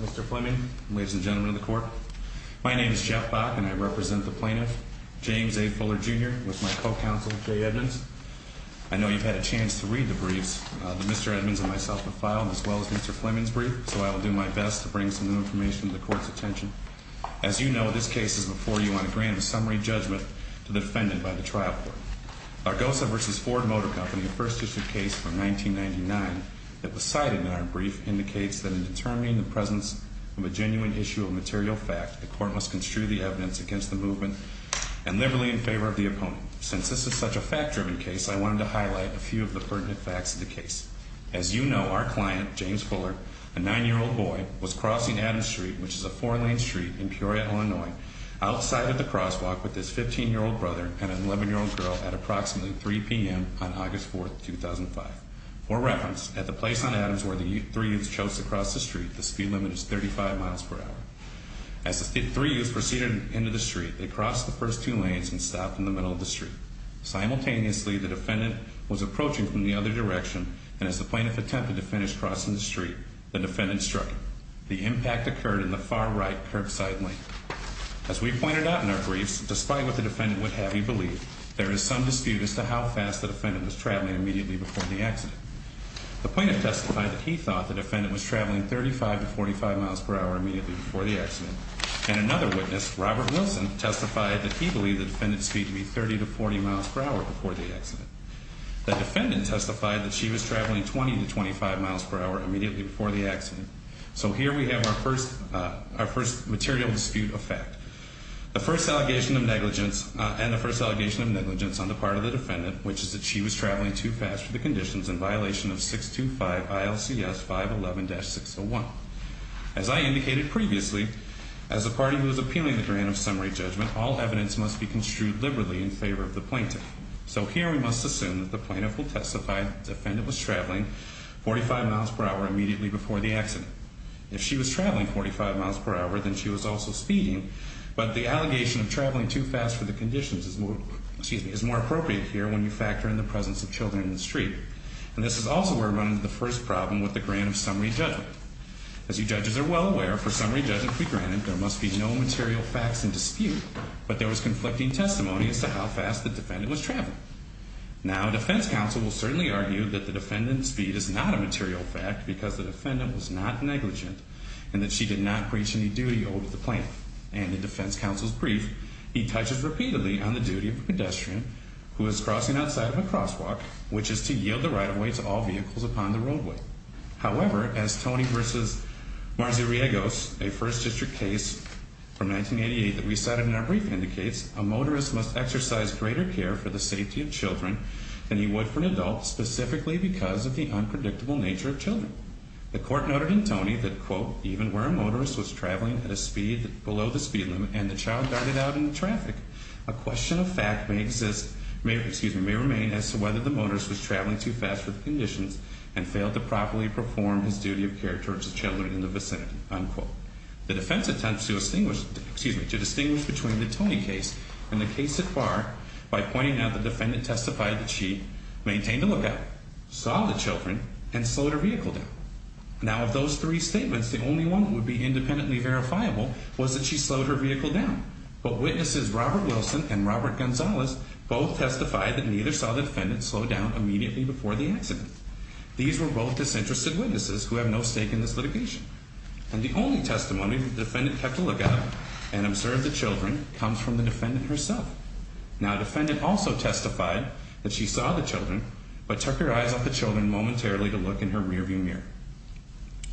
Mr. Fleming, ladies and gentlemen of the court, my name is Jeff Bach and I represent the plaintiff. James A. Fuller Jr. with my co-counsel, Jay Edmonds. I know you've had a chance to read the briefs that Mr. Edmonds and myself have filed, as well as Mr. Fleming's brief, so I will do my best to bring some new information to the court's attention. As you know, this case is before you on a grand summary judgment to the defendant by the trial court. Our Gosa v. Ford Motor Company First District case from 1999 that was cited in our brief indicates that in determining the presence of a genuine issue of material fact, the court must construe the evidence against the movement and liberally in favor of the opponent. Since this is such a fact-driven case, I wanted to highlight a few of the pertinent facts of the case. As you know, our client, James Fuller, a nine-year-old boy, was crossing Adams Street, which is a four-lane street in Peoria, Illinois, outside of the crosswalk with his 15-year-old brother and an 11-year-old girl at approximately 3 p.m. on August 4, 2005. For reference, at the place on Adams where the three youths chose to cross the street, the speed limit is 35 miles per hour. As the three youths proceeded into the street, they crossed the first two lanes and stopped in the middle of the street. Simultaneously, the defendant was approaching from the other direction, and as the plaintiff attempted to finish crossing the street, the defendant struck him. The impact occurred in the far right curbside lane. As we pointed out in our briefs, despite what the defendant would have you believe, there is some dispute as to how fast the defendant was traveling immediately before the accident. The plaintiff testified that he thought the defendant was traveling 35 to 45 miles per hour immediately before the accident. And another witness, Robert Wilson, testified that he believed the defendant's speed to be 30 to 40 miles per hour before the accident. The defendant testified that she was traveling 20 to 25 miles per hour immediately before the accident. So here we have our first material dispute of fact. The first allegation of negligence and the first allegation of negligence on the part of the defendant, which is that she was traveling too fast for the conditions in violation of 625 ILCS 511-601. As I indicated previously, as a party who is appealing the grant of summary judgment, all evidence must be construed liberally in favor of the plaintiff. So here we must assume that the plaintiff will testify that the defendant was traveling 45 miles per hour immediately before the accident. If she was traveling 45 miles per hour, then she was also speeding, but the allegation of traveling too fast for the conditions is more appropriate here when you factor in the presence of children in the street. And this is also where we run into the first problem with the grant of summary judgment. As you judges are well aware, for summary judgment to be granted, there must be no material facts in dispute, but there was conflicting testimony as to how fast the defendant was traveling. Now, defense counsel will certainly argue that the defendant's speed is not a material fact because the defendant was not negligent and that she did not preach any duty over the plaintiff. And in defense counsel's brief, he touches repeatedly on the duty of a pedestrian who is crossing outside of a crosswalk, which is to yield the right-of-way to all vehicles upon the roadway. However, as Tony versus Marziriegos, a First District case from 1988 that we cited in our brief indicates, a motorist must exercise greater care for the safety of children than he would for an adult, specifically because of the unpredictable nature of children. The court noted in Tony that, quote, even where a motorist was traveling at a speed below the speed limit and the child darted out in the traffic, a question of fact may exist, may, excuse me, may remain as to whether the motorist was traveling too fast for the conditions and failed to properly perform his duty of care towards the children in the vicinity, unquote. The defense attempts to distinguish between the Tony case and the case at par by pointing out the defendant testified that she maintained a lookout, saw the children, and slowed her vehicle down. Now, of those three statements, the only one that would be independently verifiable was that she slowed her vehicle down. But witnesses Robert Wilson and Robert Gonzalez both testified that neither saw the defendant slow down immediately before the accident. These were both disinterested witnesses who have no stake in this litigation. And the only testimony the defendant had to look at and observe the children comes from the defendant herself. Now, the defendant also testified that she saw the children but took her eyes off the children momentarily to look in her rearview mirror.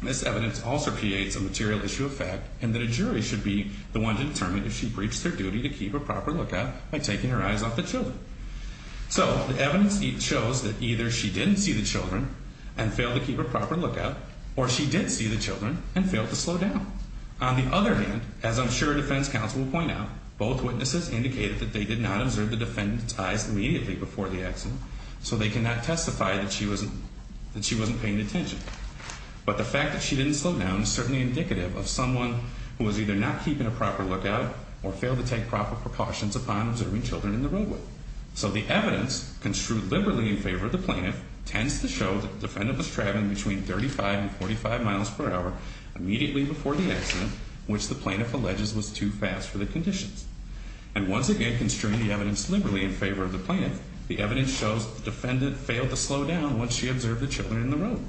This evidence also creates a material issue of fact and that a jury should be the one to determine if she breached her duty to keep a proper lookout by taking her eyes off the children. So, the evidence shows that either she didn't see the children and failed to keep a proper lookout or she did see the children and failed to slow down. On the other hand, as I'm sure defense counsel will point out, both witnesses indicated that they did not observe the defendant's eyes immediately before the accident so they cannot testify that she wasn't paying attention. But the fact that she didn't slow down is certainly indicative of someone who was either not keeping a proper lookout or failed to take proper precautions upon observing children in the roadway. So, the evidence construed liberally in favor of the plaintiff tends to show that the defendant was driving between 35 and 45 miles per hour immediately before the accident, which the plaintiff alleges was too fast for the conditions. And once again, construing the evidence liberally in favor of the plaintiff, the evidence shows that the defendant failed to slow down once she observed the children in the roadway.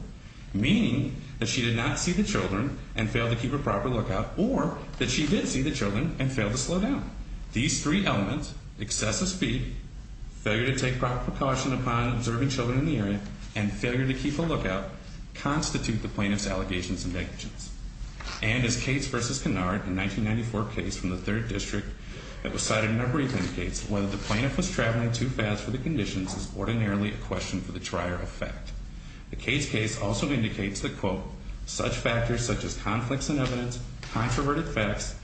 Meaning that she did not see the children and failed to keep a proper lookout or that she did see the children and failed to slow down. These three elements, excessive speed, failure to take proper precaution upon observing children in the area, and failure to keep a lookout, constitute the plaintiff's allegations and negations. And as Cates v. Kennard, a 1994 case from the 3rd District that was cited in our brief indicates, whether the plaintiff was traveling too fast for the conditions is ordinarily a question for the trier of fact. The Cates case also indicates that, quote, such factors such as conflicts in evidence, controverted facts,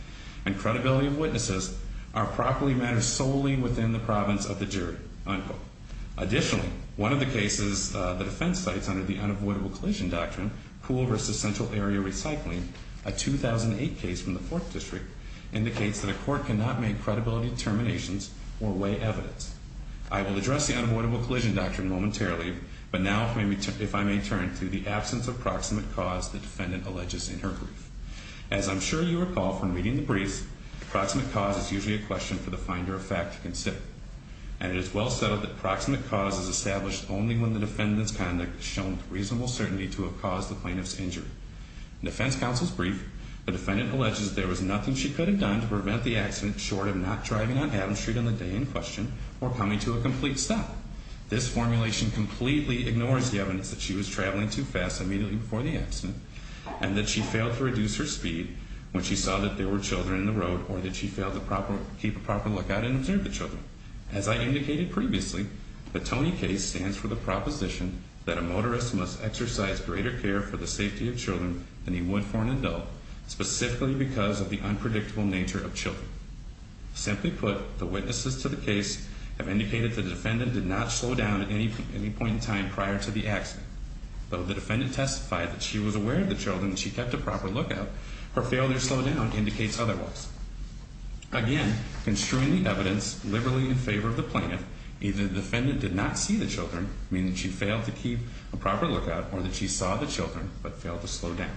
and credibility of witnesses are properly matters solely within the province of the jury, unquote. Additionally, one of the cases the defense cites under the unavoidable collision doctrine, pool versus central area recycling, a 2008 case from the 4th District, indicates that a court cannot make credibility determinations or weigh evidence. I will address the unavoidable collision doctrine momentarily, but now if I may turn to the absence of proximate cause the defendant alleges in her brief. As I'm sure you recall from reading the brief, proximate cause is usually a question for the finder of fact to consider. And it is well settled that proximate cause is established only when the defendant's conduct has shown reasonable certainty to have caused the plaintiff's injury. Defense counsel's brief, the defendant alleges there was nothing she could have done to prevent the accident short of not driving on Adams Street on the day in question or coming to a complete stop. This formulation completely ignores the evidence that she was traveling too fast immediately before the accident and that she failed to reduce her speed when she saw that there were children in the road or that she failed to keep a proper lookout and observe the children. As I indicated previously, the Tony case stands for the proposition that a motorist must exercise greater care for the safety of children than he would for an adult, specifically because of the unpredictable nature of children. Simply put, the witnesses to the case have indicated the defendant did not slow down at any point in time prior to the accident. Though the defendant testified that she was aware of the children and she kept a proper lookout, her failure to slow down indicates otherwise. Again, construing the evidence liberally in favor of the plaintiff, either the defendant did not see the children, meaning she failed to keep a proper lookout, or that she saw the children but failed to slow down.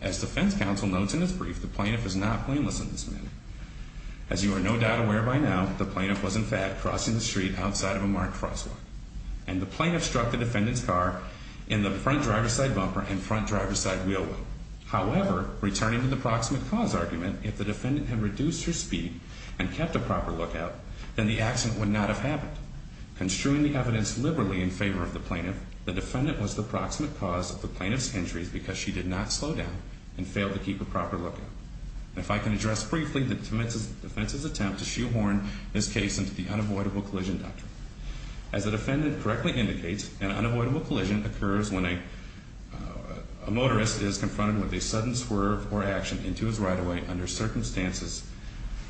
As defense counsel notes in his brief, the plaintiff is not blameless in this manner. As you are no doubt aware by now, the plaintiff was in fact crossing the street outside of a marked crosswalk. And the plaintiff struck the defendant's car in the front driver's side bumper and front driver's side wheel. However, returning to the proximate cause argument, if the defendant had reduced her speed and kept a proper lookout, then the accident would not have happened. Construing the evidence liberally in favor of the plaintiff, the defendant was the proximate cause of the plaintiff's injuries because she did not slow down and failed to keep a proper lookout. If I can address briefly the defense's attempt to shoehorn this case into the unavoidable collision doctrine. As the defendant correctly indicates, an unavoidable collision occurs when a motorist is confronted with a sudden swerve or action into his right of way under circumstances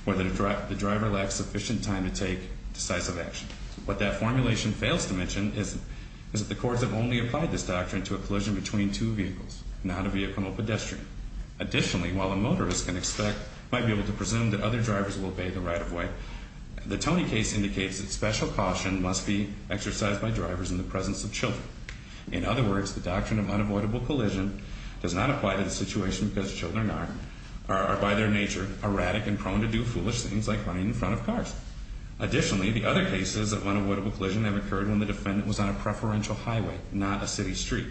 where the driver lacks sufficient time to take decisive action. What that formulation fails to mention is that the courts have only applied this doctrine to a collision between two vehicles, not a vehicle or pedestrian. Additionally, while a motorist might be able to presume that other drivers will obey the right of way, the Tony case indicates that special caution must be exercised by drivers in the presence of children. In other words, the doctrine of unavoidable collision does not apply to the situation because children are, by their nature, erratic and prone to do foolish things like running in front of cars. Additionally, the other cases of unavoidable collision have occurred when the defendant was on a preferential highway, not a city street.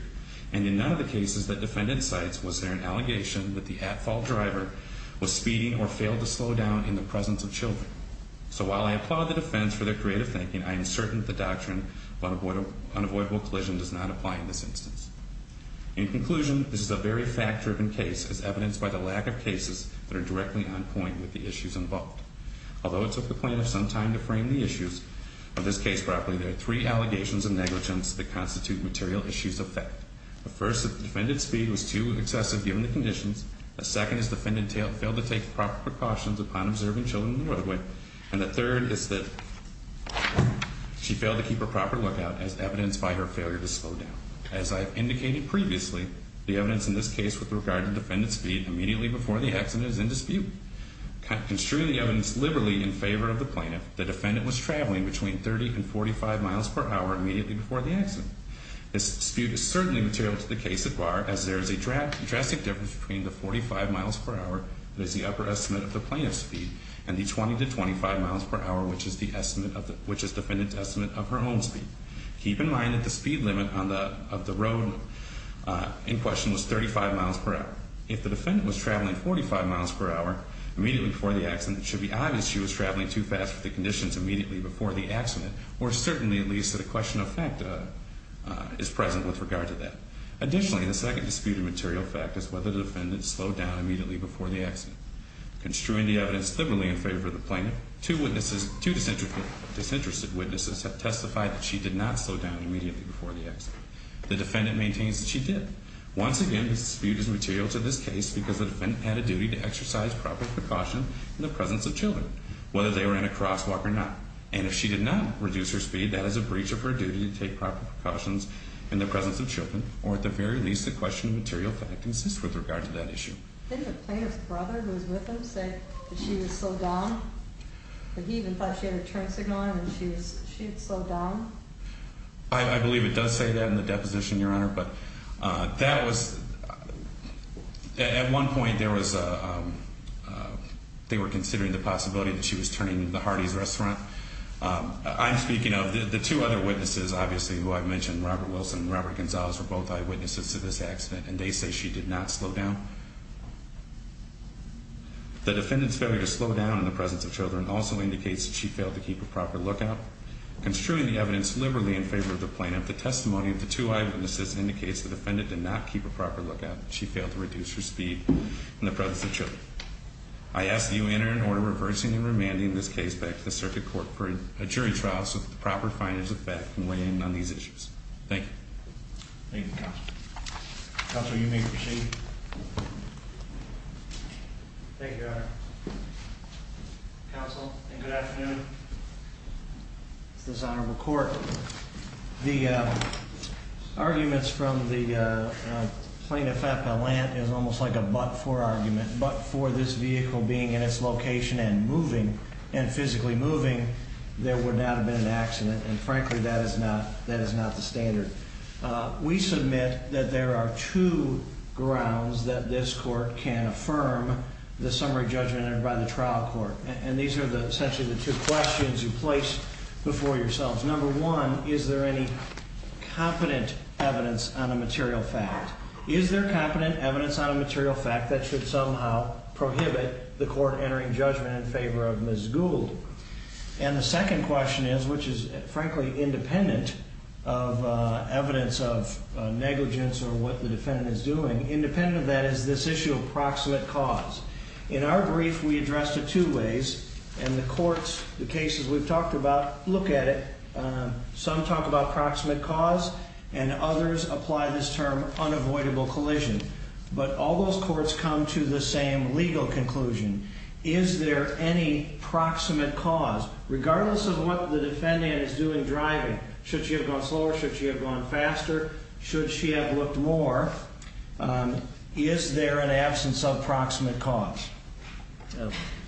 And in none of the cases the defendant cites was there an allegation that the at-fault driver was speeding or failed to slow down in the presence of children. So while I applaud the defense for their creative thinking, I am certain that the doctrine of unavoidable collision does not apply in this instance. In conclusion, this is a very fact-driven case as evidenced by the lack of cases that are directly on point with the issues involved. Although it took the plaintiff some time to frame the issues of this case properly, there are three allegations of negligence that constitute material issues of fact. The first is that the defendant's speed was too excessive given the conditions. The second is the defendant failed to take proper precautions upon observing children on the roadway. And the third is that she failed to keep a proper lookout as evidenced by her failure to slow down. As I have indicated previously, the evidence in this case with regard to defendant's speed immediately before the accident is in dispute. Construing the evidence liberally in favor of the plaintiff, the defendant was traveling between 30 and 45 miles per hour immediately before the accident. This dispute is certainly material to the case at bar as there is a drastic difference between the 45 miles per hour that is the upper estimate of the plaintiff's speed and the 20 to 25 miles per hour which is the defendant's estimate of her own speed. Keep in mind that the speed limit of the road in question was 35 miles per hour. If the defendant was traveling 45 miles per hour immediately before the accident, it should be obvious she was traveling too fast with the conditions immediately before the accident or certainly at least that a question of fact is present with regard to that. Additionally, the second disputed material fact is whether the defendant slowed down immediately before the accident. Construing the evidence liberally in favor of the plaintiff, two disinterested witnesses have testified that she did not slow down immediately before the accident. The defendant maintains that she did. Once again, this dispute is material to this case because the defendant had a duty to exercise proper precaution in the presence of children, whether they were in a crosswalk or not. And if she did not reduce her speed, that is a breach of her duty to take proper precautions in the presence of children or at the very least a question of material fact consists with regard to that issue. Didn't the plaintiff's brother who was with him say that she was slowed down? That he even thought she had a turn signal on and she had slowed down? I believe it does say that in the deposition, Your Honor. But that was at one point there was they were considering the possibility that she was turning the Hardee's restaurant. I'm speaking of the two other witnesses, obviously, who I mentioned, Robert Wilson and Robert Gonzalez, were both eyewitnesses to this accident, and they say she did not slow down. The defendant's failure to slow down in the presence of children also indicates that she failed to keep a proper lookout. Construing the evidence liberally in favor of the plaintiff, the testimony of the two eyewitnesses indicates the defendant did not keep a proper lookout. She failed to reduce her speed in the presence of children. I ask that you enter an order reversing and remanding this case back to the circuit court for a jury trial so that the proper findings of that can weigh in on these issues. Thank you. Thank you, Counsel. Counsel, you may proceed. Thank you, Your Honor. Counsel, and good afternoon. It's dishonorable court. The arguments from the plaintiff at Gallant is almost like a but-for argument. But for this vehicle being in its location and moving, and physically moving, there would not have been an accident, and frankly, that is not the standard. We submit that there are two grounds that this court can affirm the summary judgment entered by the trial court. And these are essentially the two questions you place before yourselves. Number one, is there any competent evidence on a material fact? Is there competent evidence on a material fact that should somehow prohibit the court entering judgment in favor of Ms. Gould? And the second question is, which is frankly independent of evidence of negligence or what the defendant is doing, independent of that is this issue of proximate cause. In our brief, we address it two ways, and the courts, the cases we've talked about, look at it. Some talk about proximate cause, and others apply this term unavoidable collision. But all those courts come to the same legal conclusion. Is there any proximate cause? Regardless of what the defendant is doing driving, should she have gone slower, should she have gone faster, should she have looked more, is there an absence of proximate cause?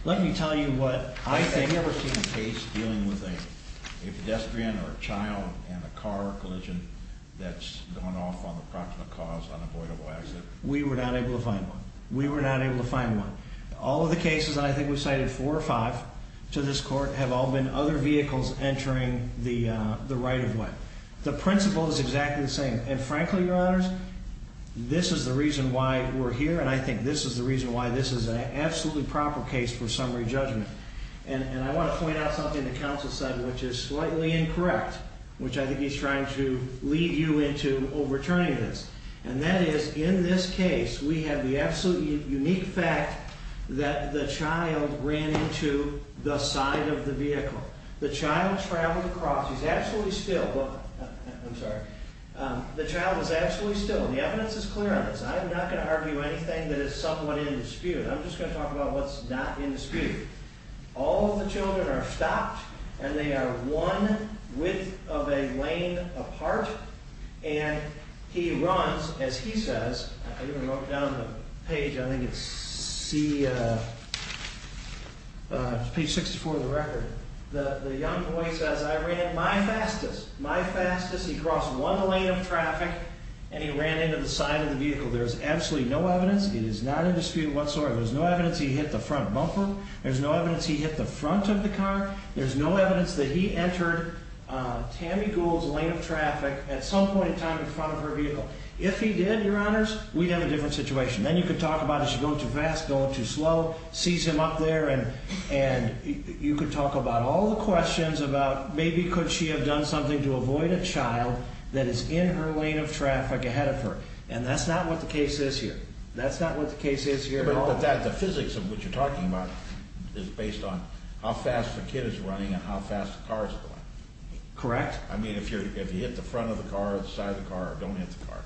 Let me tell you what I think. Have you ever seen a case dealing with a pedestrian or a child and a car collision that's going off on the proximate cause, unavoidable exit? We were not able to find one. We were not able to find one. All of the cases, and I think we've cited four or five to this court, have all been other vehicles entering the right of way. The principle is exactly the same. And frankly, Your Honors, this is the reason why we're here, and I think this is the reason why this is an absolutely proper case for summary judgment. And I want to point out something the counsel said, which is slightly incorrect, which I think he's trying to lead you into overturning this. And that is, in this case, we have the absolutely unique fact that the child ran into the side of the vehicle. The child traveled across. He's absolutely still. I'm sorry. The child is absolutely still. The evidence is clear on this. I'm not going to argue anything that is somewhat in dispute. I'm just going to talk about what's not in dispute. All of the children are stopped, and they are one width of a lane apart. And he runs, as he says, I even wrote down the page. I think it's page 64 of the record. The young boy says, I ran my fastest, my fastest. He crossed one lane of traffic, and he ran into the side of the vehicle. There is absolutely no evidence. It is not in dispute whatsoever. There's no evidence he hit the front bumper. There's no evidence he hit the front of the car. There's no evidence that he entered Tammy Gould's lane of traffic at some point in time in front of her vehicle. If he did, Your Honors, we'd have a different situation. Then you could talk about it. She's going too fast, going too slow, sees him up there. And you could talk about all the questions about maybe could she have done something to avoid a child that is in her lane of traffic ahead of her. And that's not what the case is here. That's not what the case is here at all. The physics of what you're talking about is based on how fast the kid is running and how fast the car is going. Correct. I mean, if you hit the front of the car or the side of the car or don't hit the car.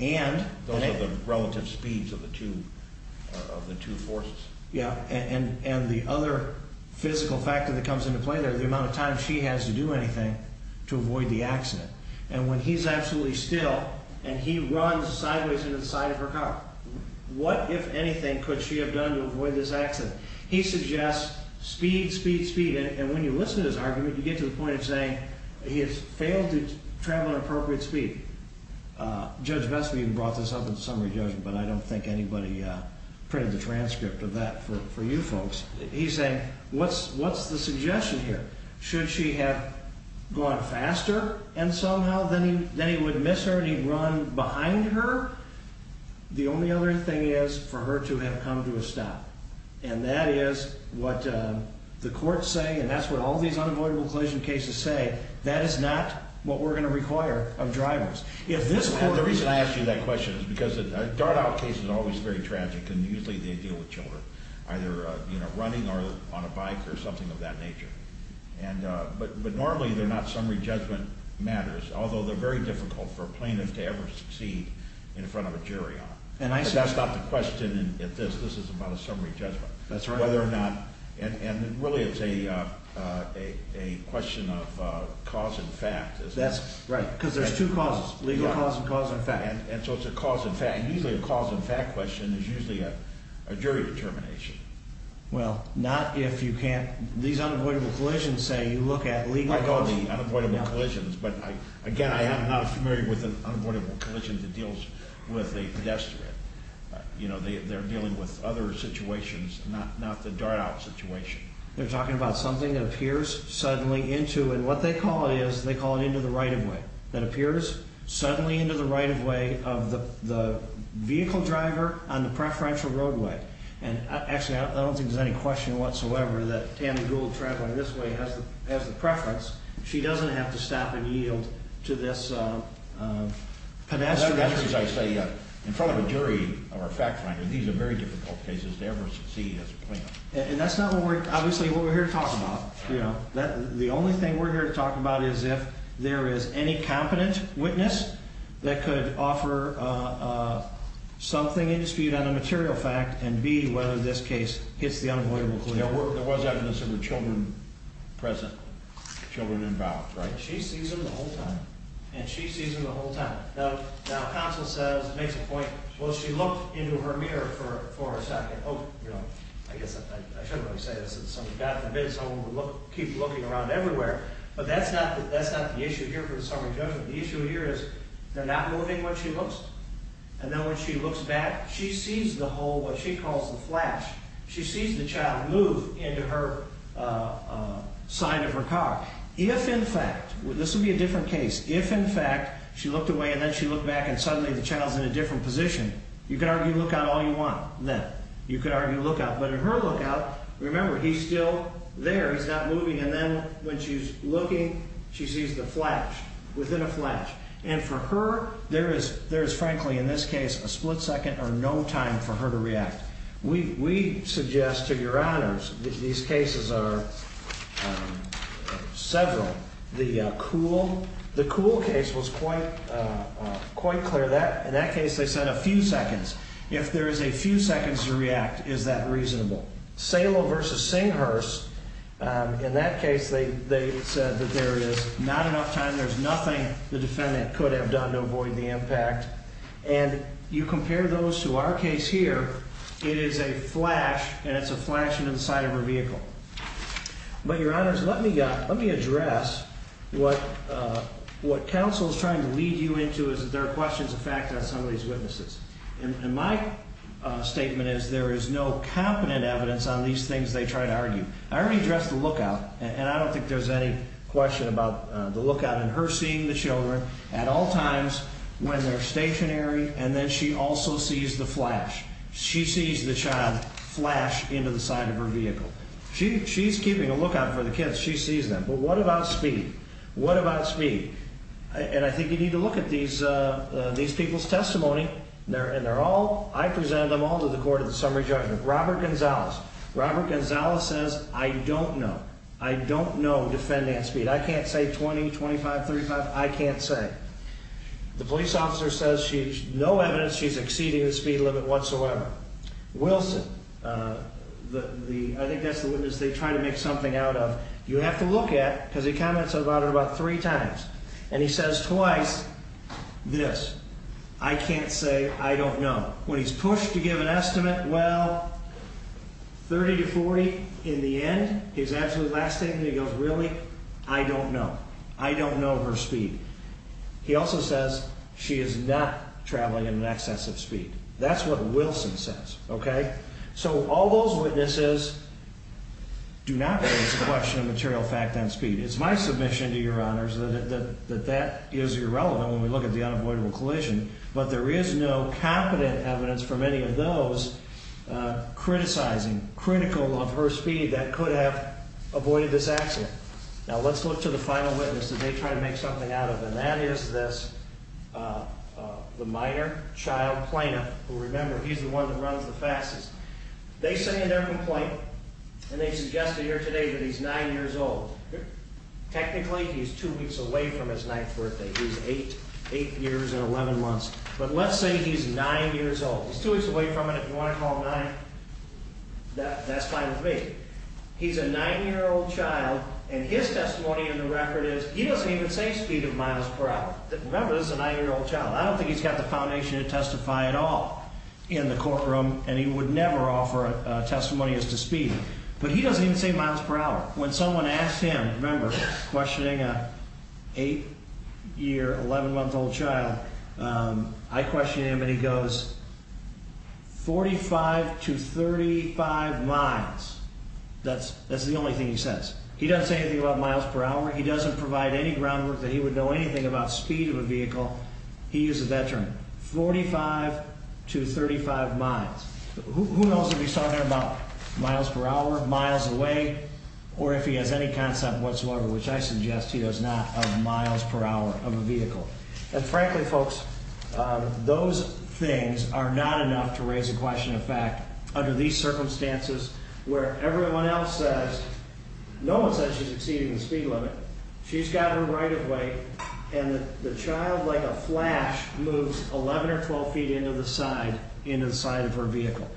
And those are the relative speeds of the two forces. Yeah. And the other physical factor that comes into play there is the amount of time she has to do anything to avoid the accident. And when he's absolutely still and he runs sideways into the side of her car, what, if anything, could she have done to avoid this accident? He suggests speed, speed, speed. And when you listen to his argument, you get to the point of saying he has failed to travel at an appropriate speed. Judge Vestma, you brought this up in the summary judgment, but I don't think anybody printed the transcript of that for you folks. He's saying, what's the suggestion here? Should she have gone faster and somehow then he would miss her and he'd run behind her? The only other thing is for her to have come to a stop. And that is what the courts say, and that's what all these unavoidable collision cases say. That is not what we're going to require of drivers. The reason I ask you that question is because a dart-out case is always very tragic, and usually they deal with children, either running or on a bike or something of that nature. But normally they're not summary judgment matters, although they're very difficult for a plaintiff to ever succeed in front of a jury on. But that's not the question in this. This is about a summary judgment, whether or not, and really it's a question of cause and fact. That's right, because there's two causes, legal cause and cause and fact. And so it's a cause and fact. And usually a cause and fact question is usually a jury determination. Well, not if you can't, these unavoidable collisions say you look at legal cause. That's what I call the unavoidable collisions. But, again, I am not familiar with an unavoidable collision that deals with a pedestrian. They're dealing with other situations, not the dart-out situation. They're talking about something that appears suddenly into, and what they call it is they call it into the right-of-way, that appears suddenly into the right-of-way of the vehicle driver on the preferential roadway. And, actually, I don't think there's any question whatsoever that Tammy Gould traveling this way has the preference. She doesn't have to stop and yield to this pedestrian. As I say, in front of a jury or a fact finder, these are very difficult cases to ever succeed as a plaintiff. And that's not, obviously, what we're here to talk about. The only thing we're here to talk about is if there is any competent witness that could offer something indisputed on a material fact and, B, whether this case hits the unavoidable collision. There was evidence of the children present, children involved, right? She sees them the whole time. And she sees them the whole time. Now, counsel says, makes a point, well, she looked into her mirror for a second. Oh, you know, I guess I shouldn't really say this. If somebody got the bid, someone would keep looking around everywhere. But that's not the issue here for the summary judgment. The issue here is they're not moving when she looks. And then when she looks back, she sees the whole, what she calls the flash. She sees the child move into her side of her car. If, in fact, this would be a different case. If, in fact, she looked away and then she looked back and suddenly the child's in a different position, you could argue look out all you want then. You could argue look out. But in her look out, remember, he's still there. He's not moving. And then when she's looking, she sees the flash. Within a flash. And for her, there is, frankly, in this case, a split second or no time for her to react. We suggest to your honors that these cases are several. The Kuhl case was quite clear. In that case, they said a few seconds. If there is a few seconds to react, is that reasonable? Salo versus Singhurst, in that case, they said that there is not enough time. There's nothing the defendant could have done to avoid the impact. And you compare those to our case here. It is a flash, and it's a flash into the side of her vehicle. But, your honors, let me address what counsel is trying to lead you into is that there are questions of fact on some of these witnesses. And my statement is there is no competent evidence on these things they try to argue. I already addressed the look out, and I don't think there's any question about the look out. And her seeing the children at all times when they're stationary, and then she also sees the flash. She sees the child flash into the side of her vehicle. She's keeping a look out for the kids. She sees them. But what about speed? What about speed? And I think you need to look at these people's testimony, and they're all, I presented them all to the court in the summary judgment. Robert Gonzales. Robert Gonzales says, I don't know. I don't know, defendant, speed. I can't say 20, 25, 35. I can't say. The police officer says there's no evidence she's exceeding the speed limit whatsoever. Wilson. I think that's the witness they try to make something out of. You have to look at, because he comments about it about three times, and he says twice this. I can't say I don't know. When he's pushed to give an estimate, well, 30 to 40 in the end, his absolute last statement, he goes, really? I don't know. I don't know her speed. He also says she is not traveling at an excessive speed. That's what Wilson says, okay? So all those witnesses do not raise the question of material fact on speed. It's my submission to your honors that that is irrelevant when we look at the unavoidable collision, but there is no competent evidence from any of those criticizing, critical of her speed that could have avoided this accident. Now, let's look to the final witness that they try to make something out of, and that is this, the minor child plaintiff, who, remember, he's the one that runs the faxes. They say in their complaint, and they suggest it here today, that he's nine years old. Technically, he's two weeks away from his ninth birthday. He's eight years and 11 months. But let's say he's nine years old. He's two weeks away from it. If you want to call him nine, that's fine with me. He's a nine-year-old child, and his testimony in the record is he doesn't even say speed of miles per hour. Remember, this is a nine-year-old child. I don't think he's got the foundation to testify at all in the courtroom, and he would never offer a testimony as to speed. But he doesn't even say miles per hour. When someone asks him, remember, questioning an eight-year, 11-month-old child, I question him, and he goes, 45 to 35 miles. That's the only thing he says. He doesn't say anything about miles per hour. He doesn't provide any groundwork that he would know anything about speed of a vehicle. He uses that term, 45 to 35 miles. Who knows if he's talking about miles per hour, miles away, or if he has any concept whatsoever, which I suggest he does not, of miles per hour of a vehicle. And frankly, folks, those things are not enough to raise a question of fact under these circumstances where everyone else says no one says she's exceeding the speed limit. She's got her right of way, and the child, like a flash, moves 11 or 12 feet into the side of her vehicle.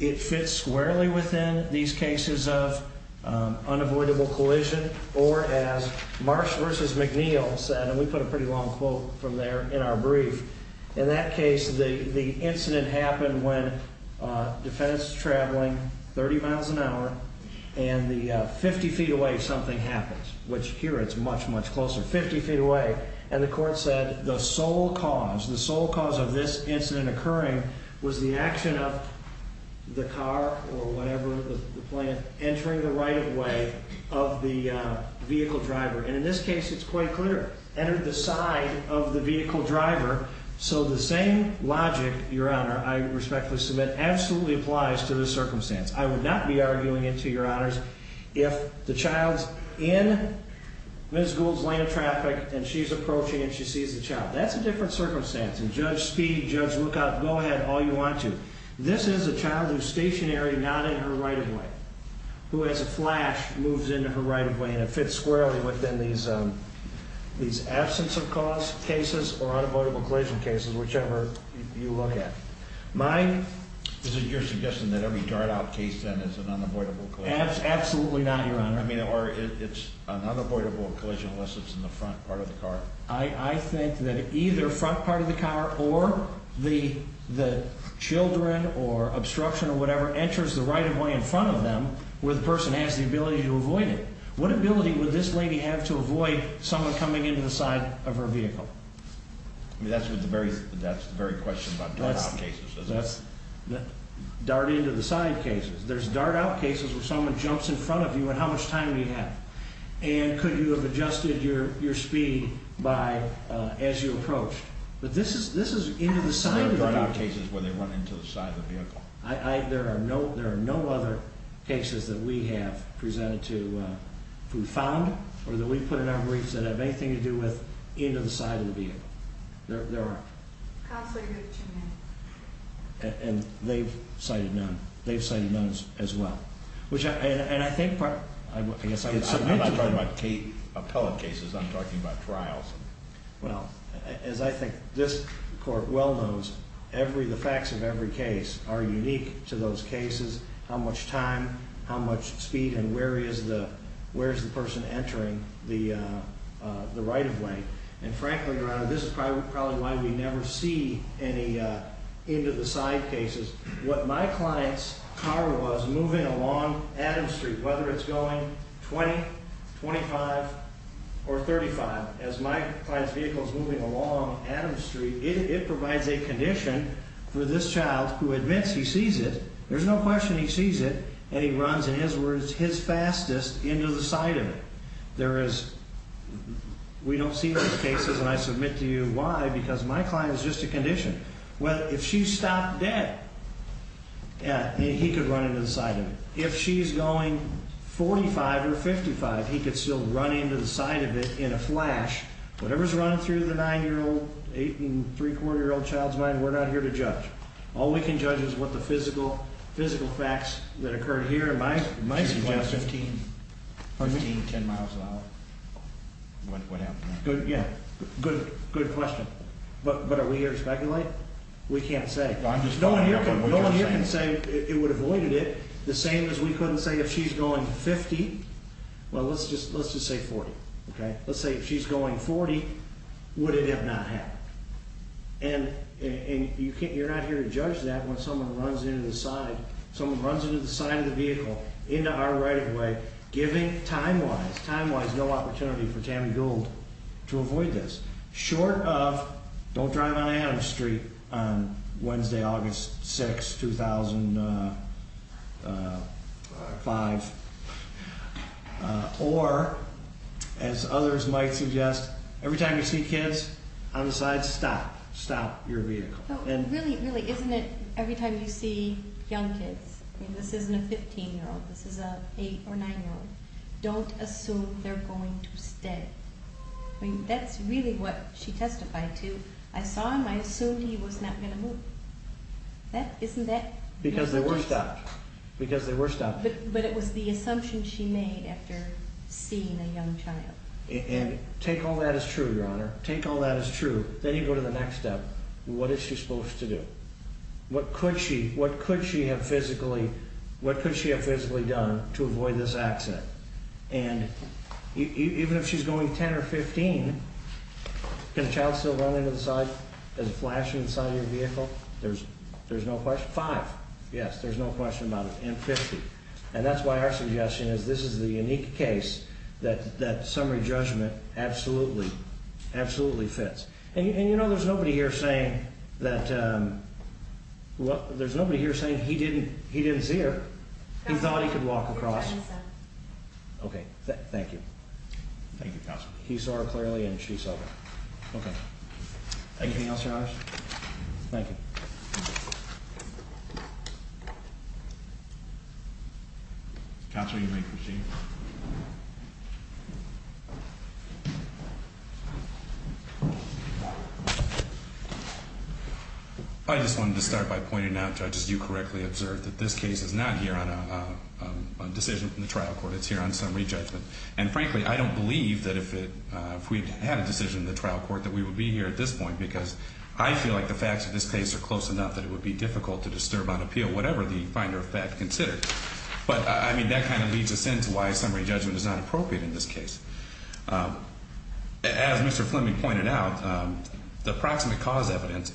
It fits squarely within these cases of unavoidable collision or as Marsh v. McNeil said, and we put a pretty long quote from there in our brief. In that case, the incident happened when the defendant's traveling 30 miles an hour, and 50 feet away something happens, which here it's much, much closer, 50 feet away. And the court said the sole cause, the sole cause of this incident occurring was the action of the car or whatever, the plane, entering the right of way of the vehicle driver. And in this case, it's quite clear, entered the side of the vehicle driver. So the same logic, Your Honor, I respectfully submit absolutely applies to this circumstance. I would not be arguing it to Your Honors if the child's in Ms. Gould's lane of traffic and she's approaching and she sees the child. That's a different circumstance. And Judge Speed, Judge Lookout, go ahead all you want to. This is a child who's stationary, not in her right of way, who has a flash, moves into her right of way, and it fits squarely within these absence of cause cases or unavoidable collision cases, whichever you look at. Is it your suggestion that every dart out case then is an unavoidable collision? Absolutely not, Your Honor. I mean, or it's an unavoidable collision unless it's in the front part of the car. I think that either front part of the car or the children or obstruction or whatever enters the right of way in front of them where the person has the ability to avoid it. What ability would this lady have to avoid someone coming into the side of her vehicle? I mean, that's the very question about dart out cases, isn't it? Dart into the side cases. There's dart out cases where someone jumps in front of you and how much time do you have? And could you have adjusted your speed as you approached? But this is into the side of the vehicle. There are dart out cases where they run into the side of the vehicle. There are no other cases that we have presented to, who found or that we put in our briefs that have anything to do with into the side of the vehicle. There aren't. Counselor, you have two minutes. And they've cited none. They've cited none as well. I guess I would submit to them. I'm not talking about appellate cases. I'm talking about trials. Well, as I think this court well knows, the facts of every case are unique to those cases, how much time, how much speed, and where is the person entering the right of way. And frankly, Your Honor, this is probably why we never see any into the side cases. What my client's car was moving along Adams Street, whether it's going 20, 25, or 35, as my client's vehicle is moving along Adams Street, it provides a condition for this child who admits he sees it. There's no question he sees it, and he runs, in his words, his fastest into the side of it. There is we don't see those cases, and I submit to you why, because my client is just a condition. Well, if she stopped dead, yeah, he could run into the side of it. If she's going 45 or 55, he could still run into the side of it in a flash. Whatever's running through the 9-year-old, 8- and 3-quarter-year-old child's mind, we're not here to judge. All we can judge is what the physical facts that occurred here might suggest. She went 15, 10 miles an hour. What happened there? Yeah, good question. But are we here to speculate? We can't say. No one here can say it would have avoided it the same as we couldn't say if she's going 50. Well, let's just say 40, okay? Let's say if she's going 40, would it have not happened? And you're not here to judge that when someone runs into the side of the vehicle into our right-of-way, giving time-wise no opportunity for Tammy Gould to avoid this. Short of, don't drive on Adams Street on Wednesday, August 6, 2005. Or, as others might suggest, every time you see kids on the side, stop. Stop your vehicle. Really, really, isn't it every time you see young kids, this isn't a 15-year-old, this is an 8- or 9-year-old, don't assume they're going to stay. I mean, that's really what she testified to. I saw him, I assumed he was not going to move. Isn't that the assumption? Because they were stopped. But it was the assumption she made after seeing a young child. And take all that as true, Your Honor. Take all that as true. Then you go to the next step. What is she supposed to do? What could she have physically done to avoid this accident? And even if she's going 10 or 15, can a child still run into the side? Does it flash inside your vehicle? There's no question. Five, yes, there's no question about it. And 50. And that's why our suggestion is this is the unique case that summary judgment absolutely, absolutely fits. And, you know, there's nobody here saying that he didn't see her. He thought he could walk across. Okay. Thank you. Thank you. He saw her clearly and she saw. Okay. Thank you. Thank you. Counsel, you may proceed. I just wanted to start by pointing out, Judge, as you correctly observed, that this case is not here on a decision from the trial court. It's here on summary judgment. And, frankly, I don't believe that if we had a decision in the trial court that we would be here at this point because I feel like the facts of this case are close enough that it would be difficult to disturb on appeal whatever the finder of fact considered. But, I mean, that kind of leads us into why summary judgment is not appropriate in this case. As Mr. Fleming pointed out, the approximate cause evidence,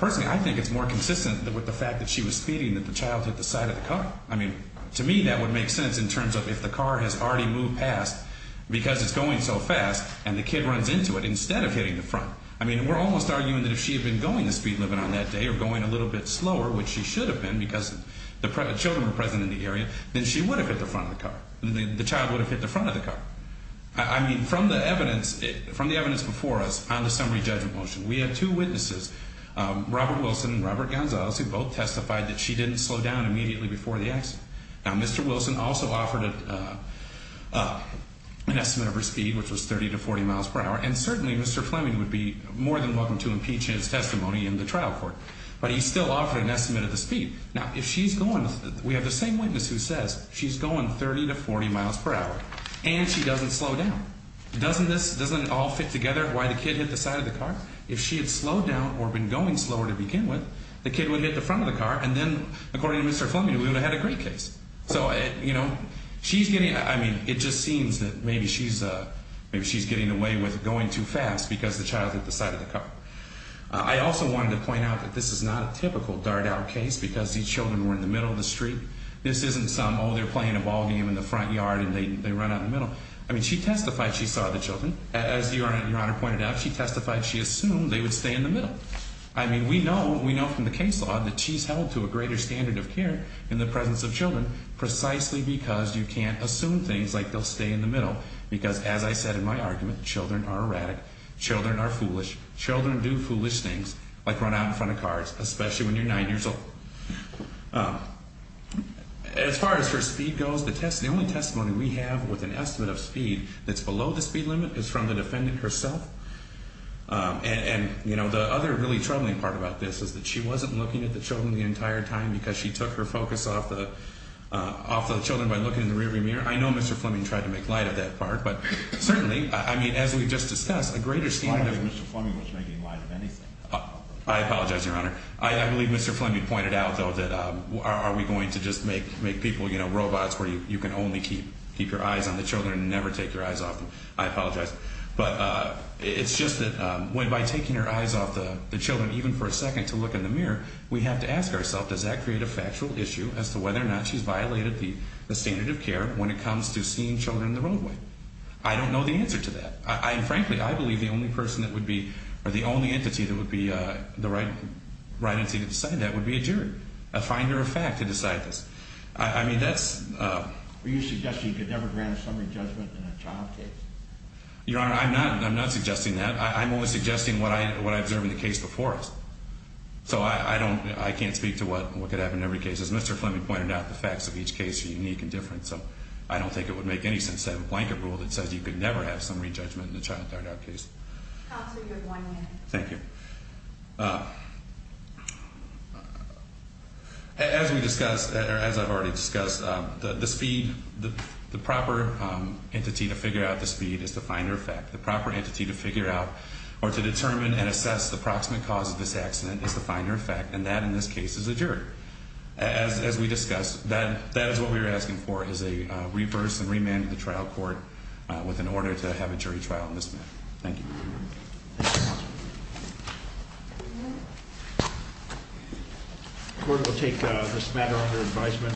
personally, I think it's more consistent with the fact that she was speeding and that the child hit the side of the car. I mean, to me, that would make sense in terms of if the car has already moved past because it's going so fast and the kid runs into it instead of hitting the front. I mean, we're almost arguing that if she had been going the speed limit on that day or going a little bit slower, which she should have been because the children were present in the area, then she would have hit the front of the car. The child would have hit the front of the car. I mean, from the evidence before us on the summary judgment motion, we had two witnesses, Robert Wilson and Robert Gonzalez, who both testified that she didn't slow down immediately before the accident. Now, Mr. Wilson also offered an estimate of her speed, which was 30 to 40 miles per hour, and certainly Mr. Fleming would be more than welcome to impeach his testimony in the trial court. But he still offered an estimate of the speed. Now, if she's going, we have the same witness who says she's going 30 to 40 miles per hour, and she doesn't slow down. Doesn't this, doesn't it all fit together why the kid hit the side of the car? If she had slowed down or been going slower to begin with, the kid would have hit the front of the car, and then, according to Mr. Fleming, we would have had a great case. So, you know, she's getting, I mean, it just seems that maybe she's, maybe she's getting away with going too fast because the child hit the side of the car. I also wanted to point out that this is not a typical dart out case because these children were in the middle of the street. This isn't some, oh, they're playing a ball game in the front yard and they run out in the middle. I mean, she testified she saw the children. As Your Honor pointed out, she testified she assumed they would stay in the middle. I mean, we know, we know from the case law that she's held to a greater standard of care in the presence of children precisely because you can't assume things like they'll stay in the middle because, as I said in my argument, children are erratic, children are foolish, children do foolish things like run out in front of cars, especially when you're 9 years old. As far as her speed goes, the only testimony we have with an estimate of speed that's below the speed limit is from the defendant herself. And, you know, the other really troubling part about this is that she wasn't looking at the children the entire time because she took her focus off the children by looking in the rearview mirror. I know Mr. Fleming tried to make light of that part, but certainly, I mean, as we just discussed, a greater standard of... I don't believe Mr. Fleming was making light of anything. I apologize, Your Honor. I believe Mr. Fleming pointed out, though, that are we going to just make people, you know, robots where you can only keep your eyes on the children and never take your eyes off them? I apologize. But it's just that by taking your eyes off the children, even for a second, to look in the mirror, we have to ask ourselves, does that create a factual issue as to whether or not she's violated the standard of care when it comes to seeing children in the roadway? I don't know the answer to that. And, frankly, I believe the only person that would be, or the only entity that would be the right entity to decide that would be a jury, a finder of fact to decide this. I mean, that's... Are you suggesting you could never grant a summary judgment in a child case? Your Honor, I'm not suggesting that. I'm only suggesting what I observed in the case before us. So I don't, I can't speak to what could happen in every case. As Mr. Fleming pointed out, the facts of each case are unique and different, so I don't think it would make any sense to have a blanket rule that says you could never have summary judgment in a child, third-out case. Counsel, you have one minute. Thank you. As we discussed, or as I've already discussed, the speed, the proper entity to figure out the speed is the finder of fact. The proper entity to figure out or to determine and assess the approximate cause of this accident is the finder of fact, and that, in this case, is a jury. As we discussed, that is what we are asking for, is a reverse and remand of the trial court with an order to have a jury trial in this matter. Thank you. The court will take this matter under advisement.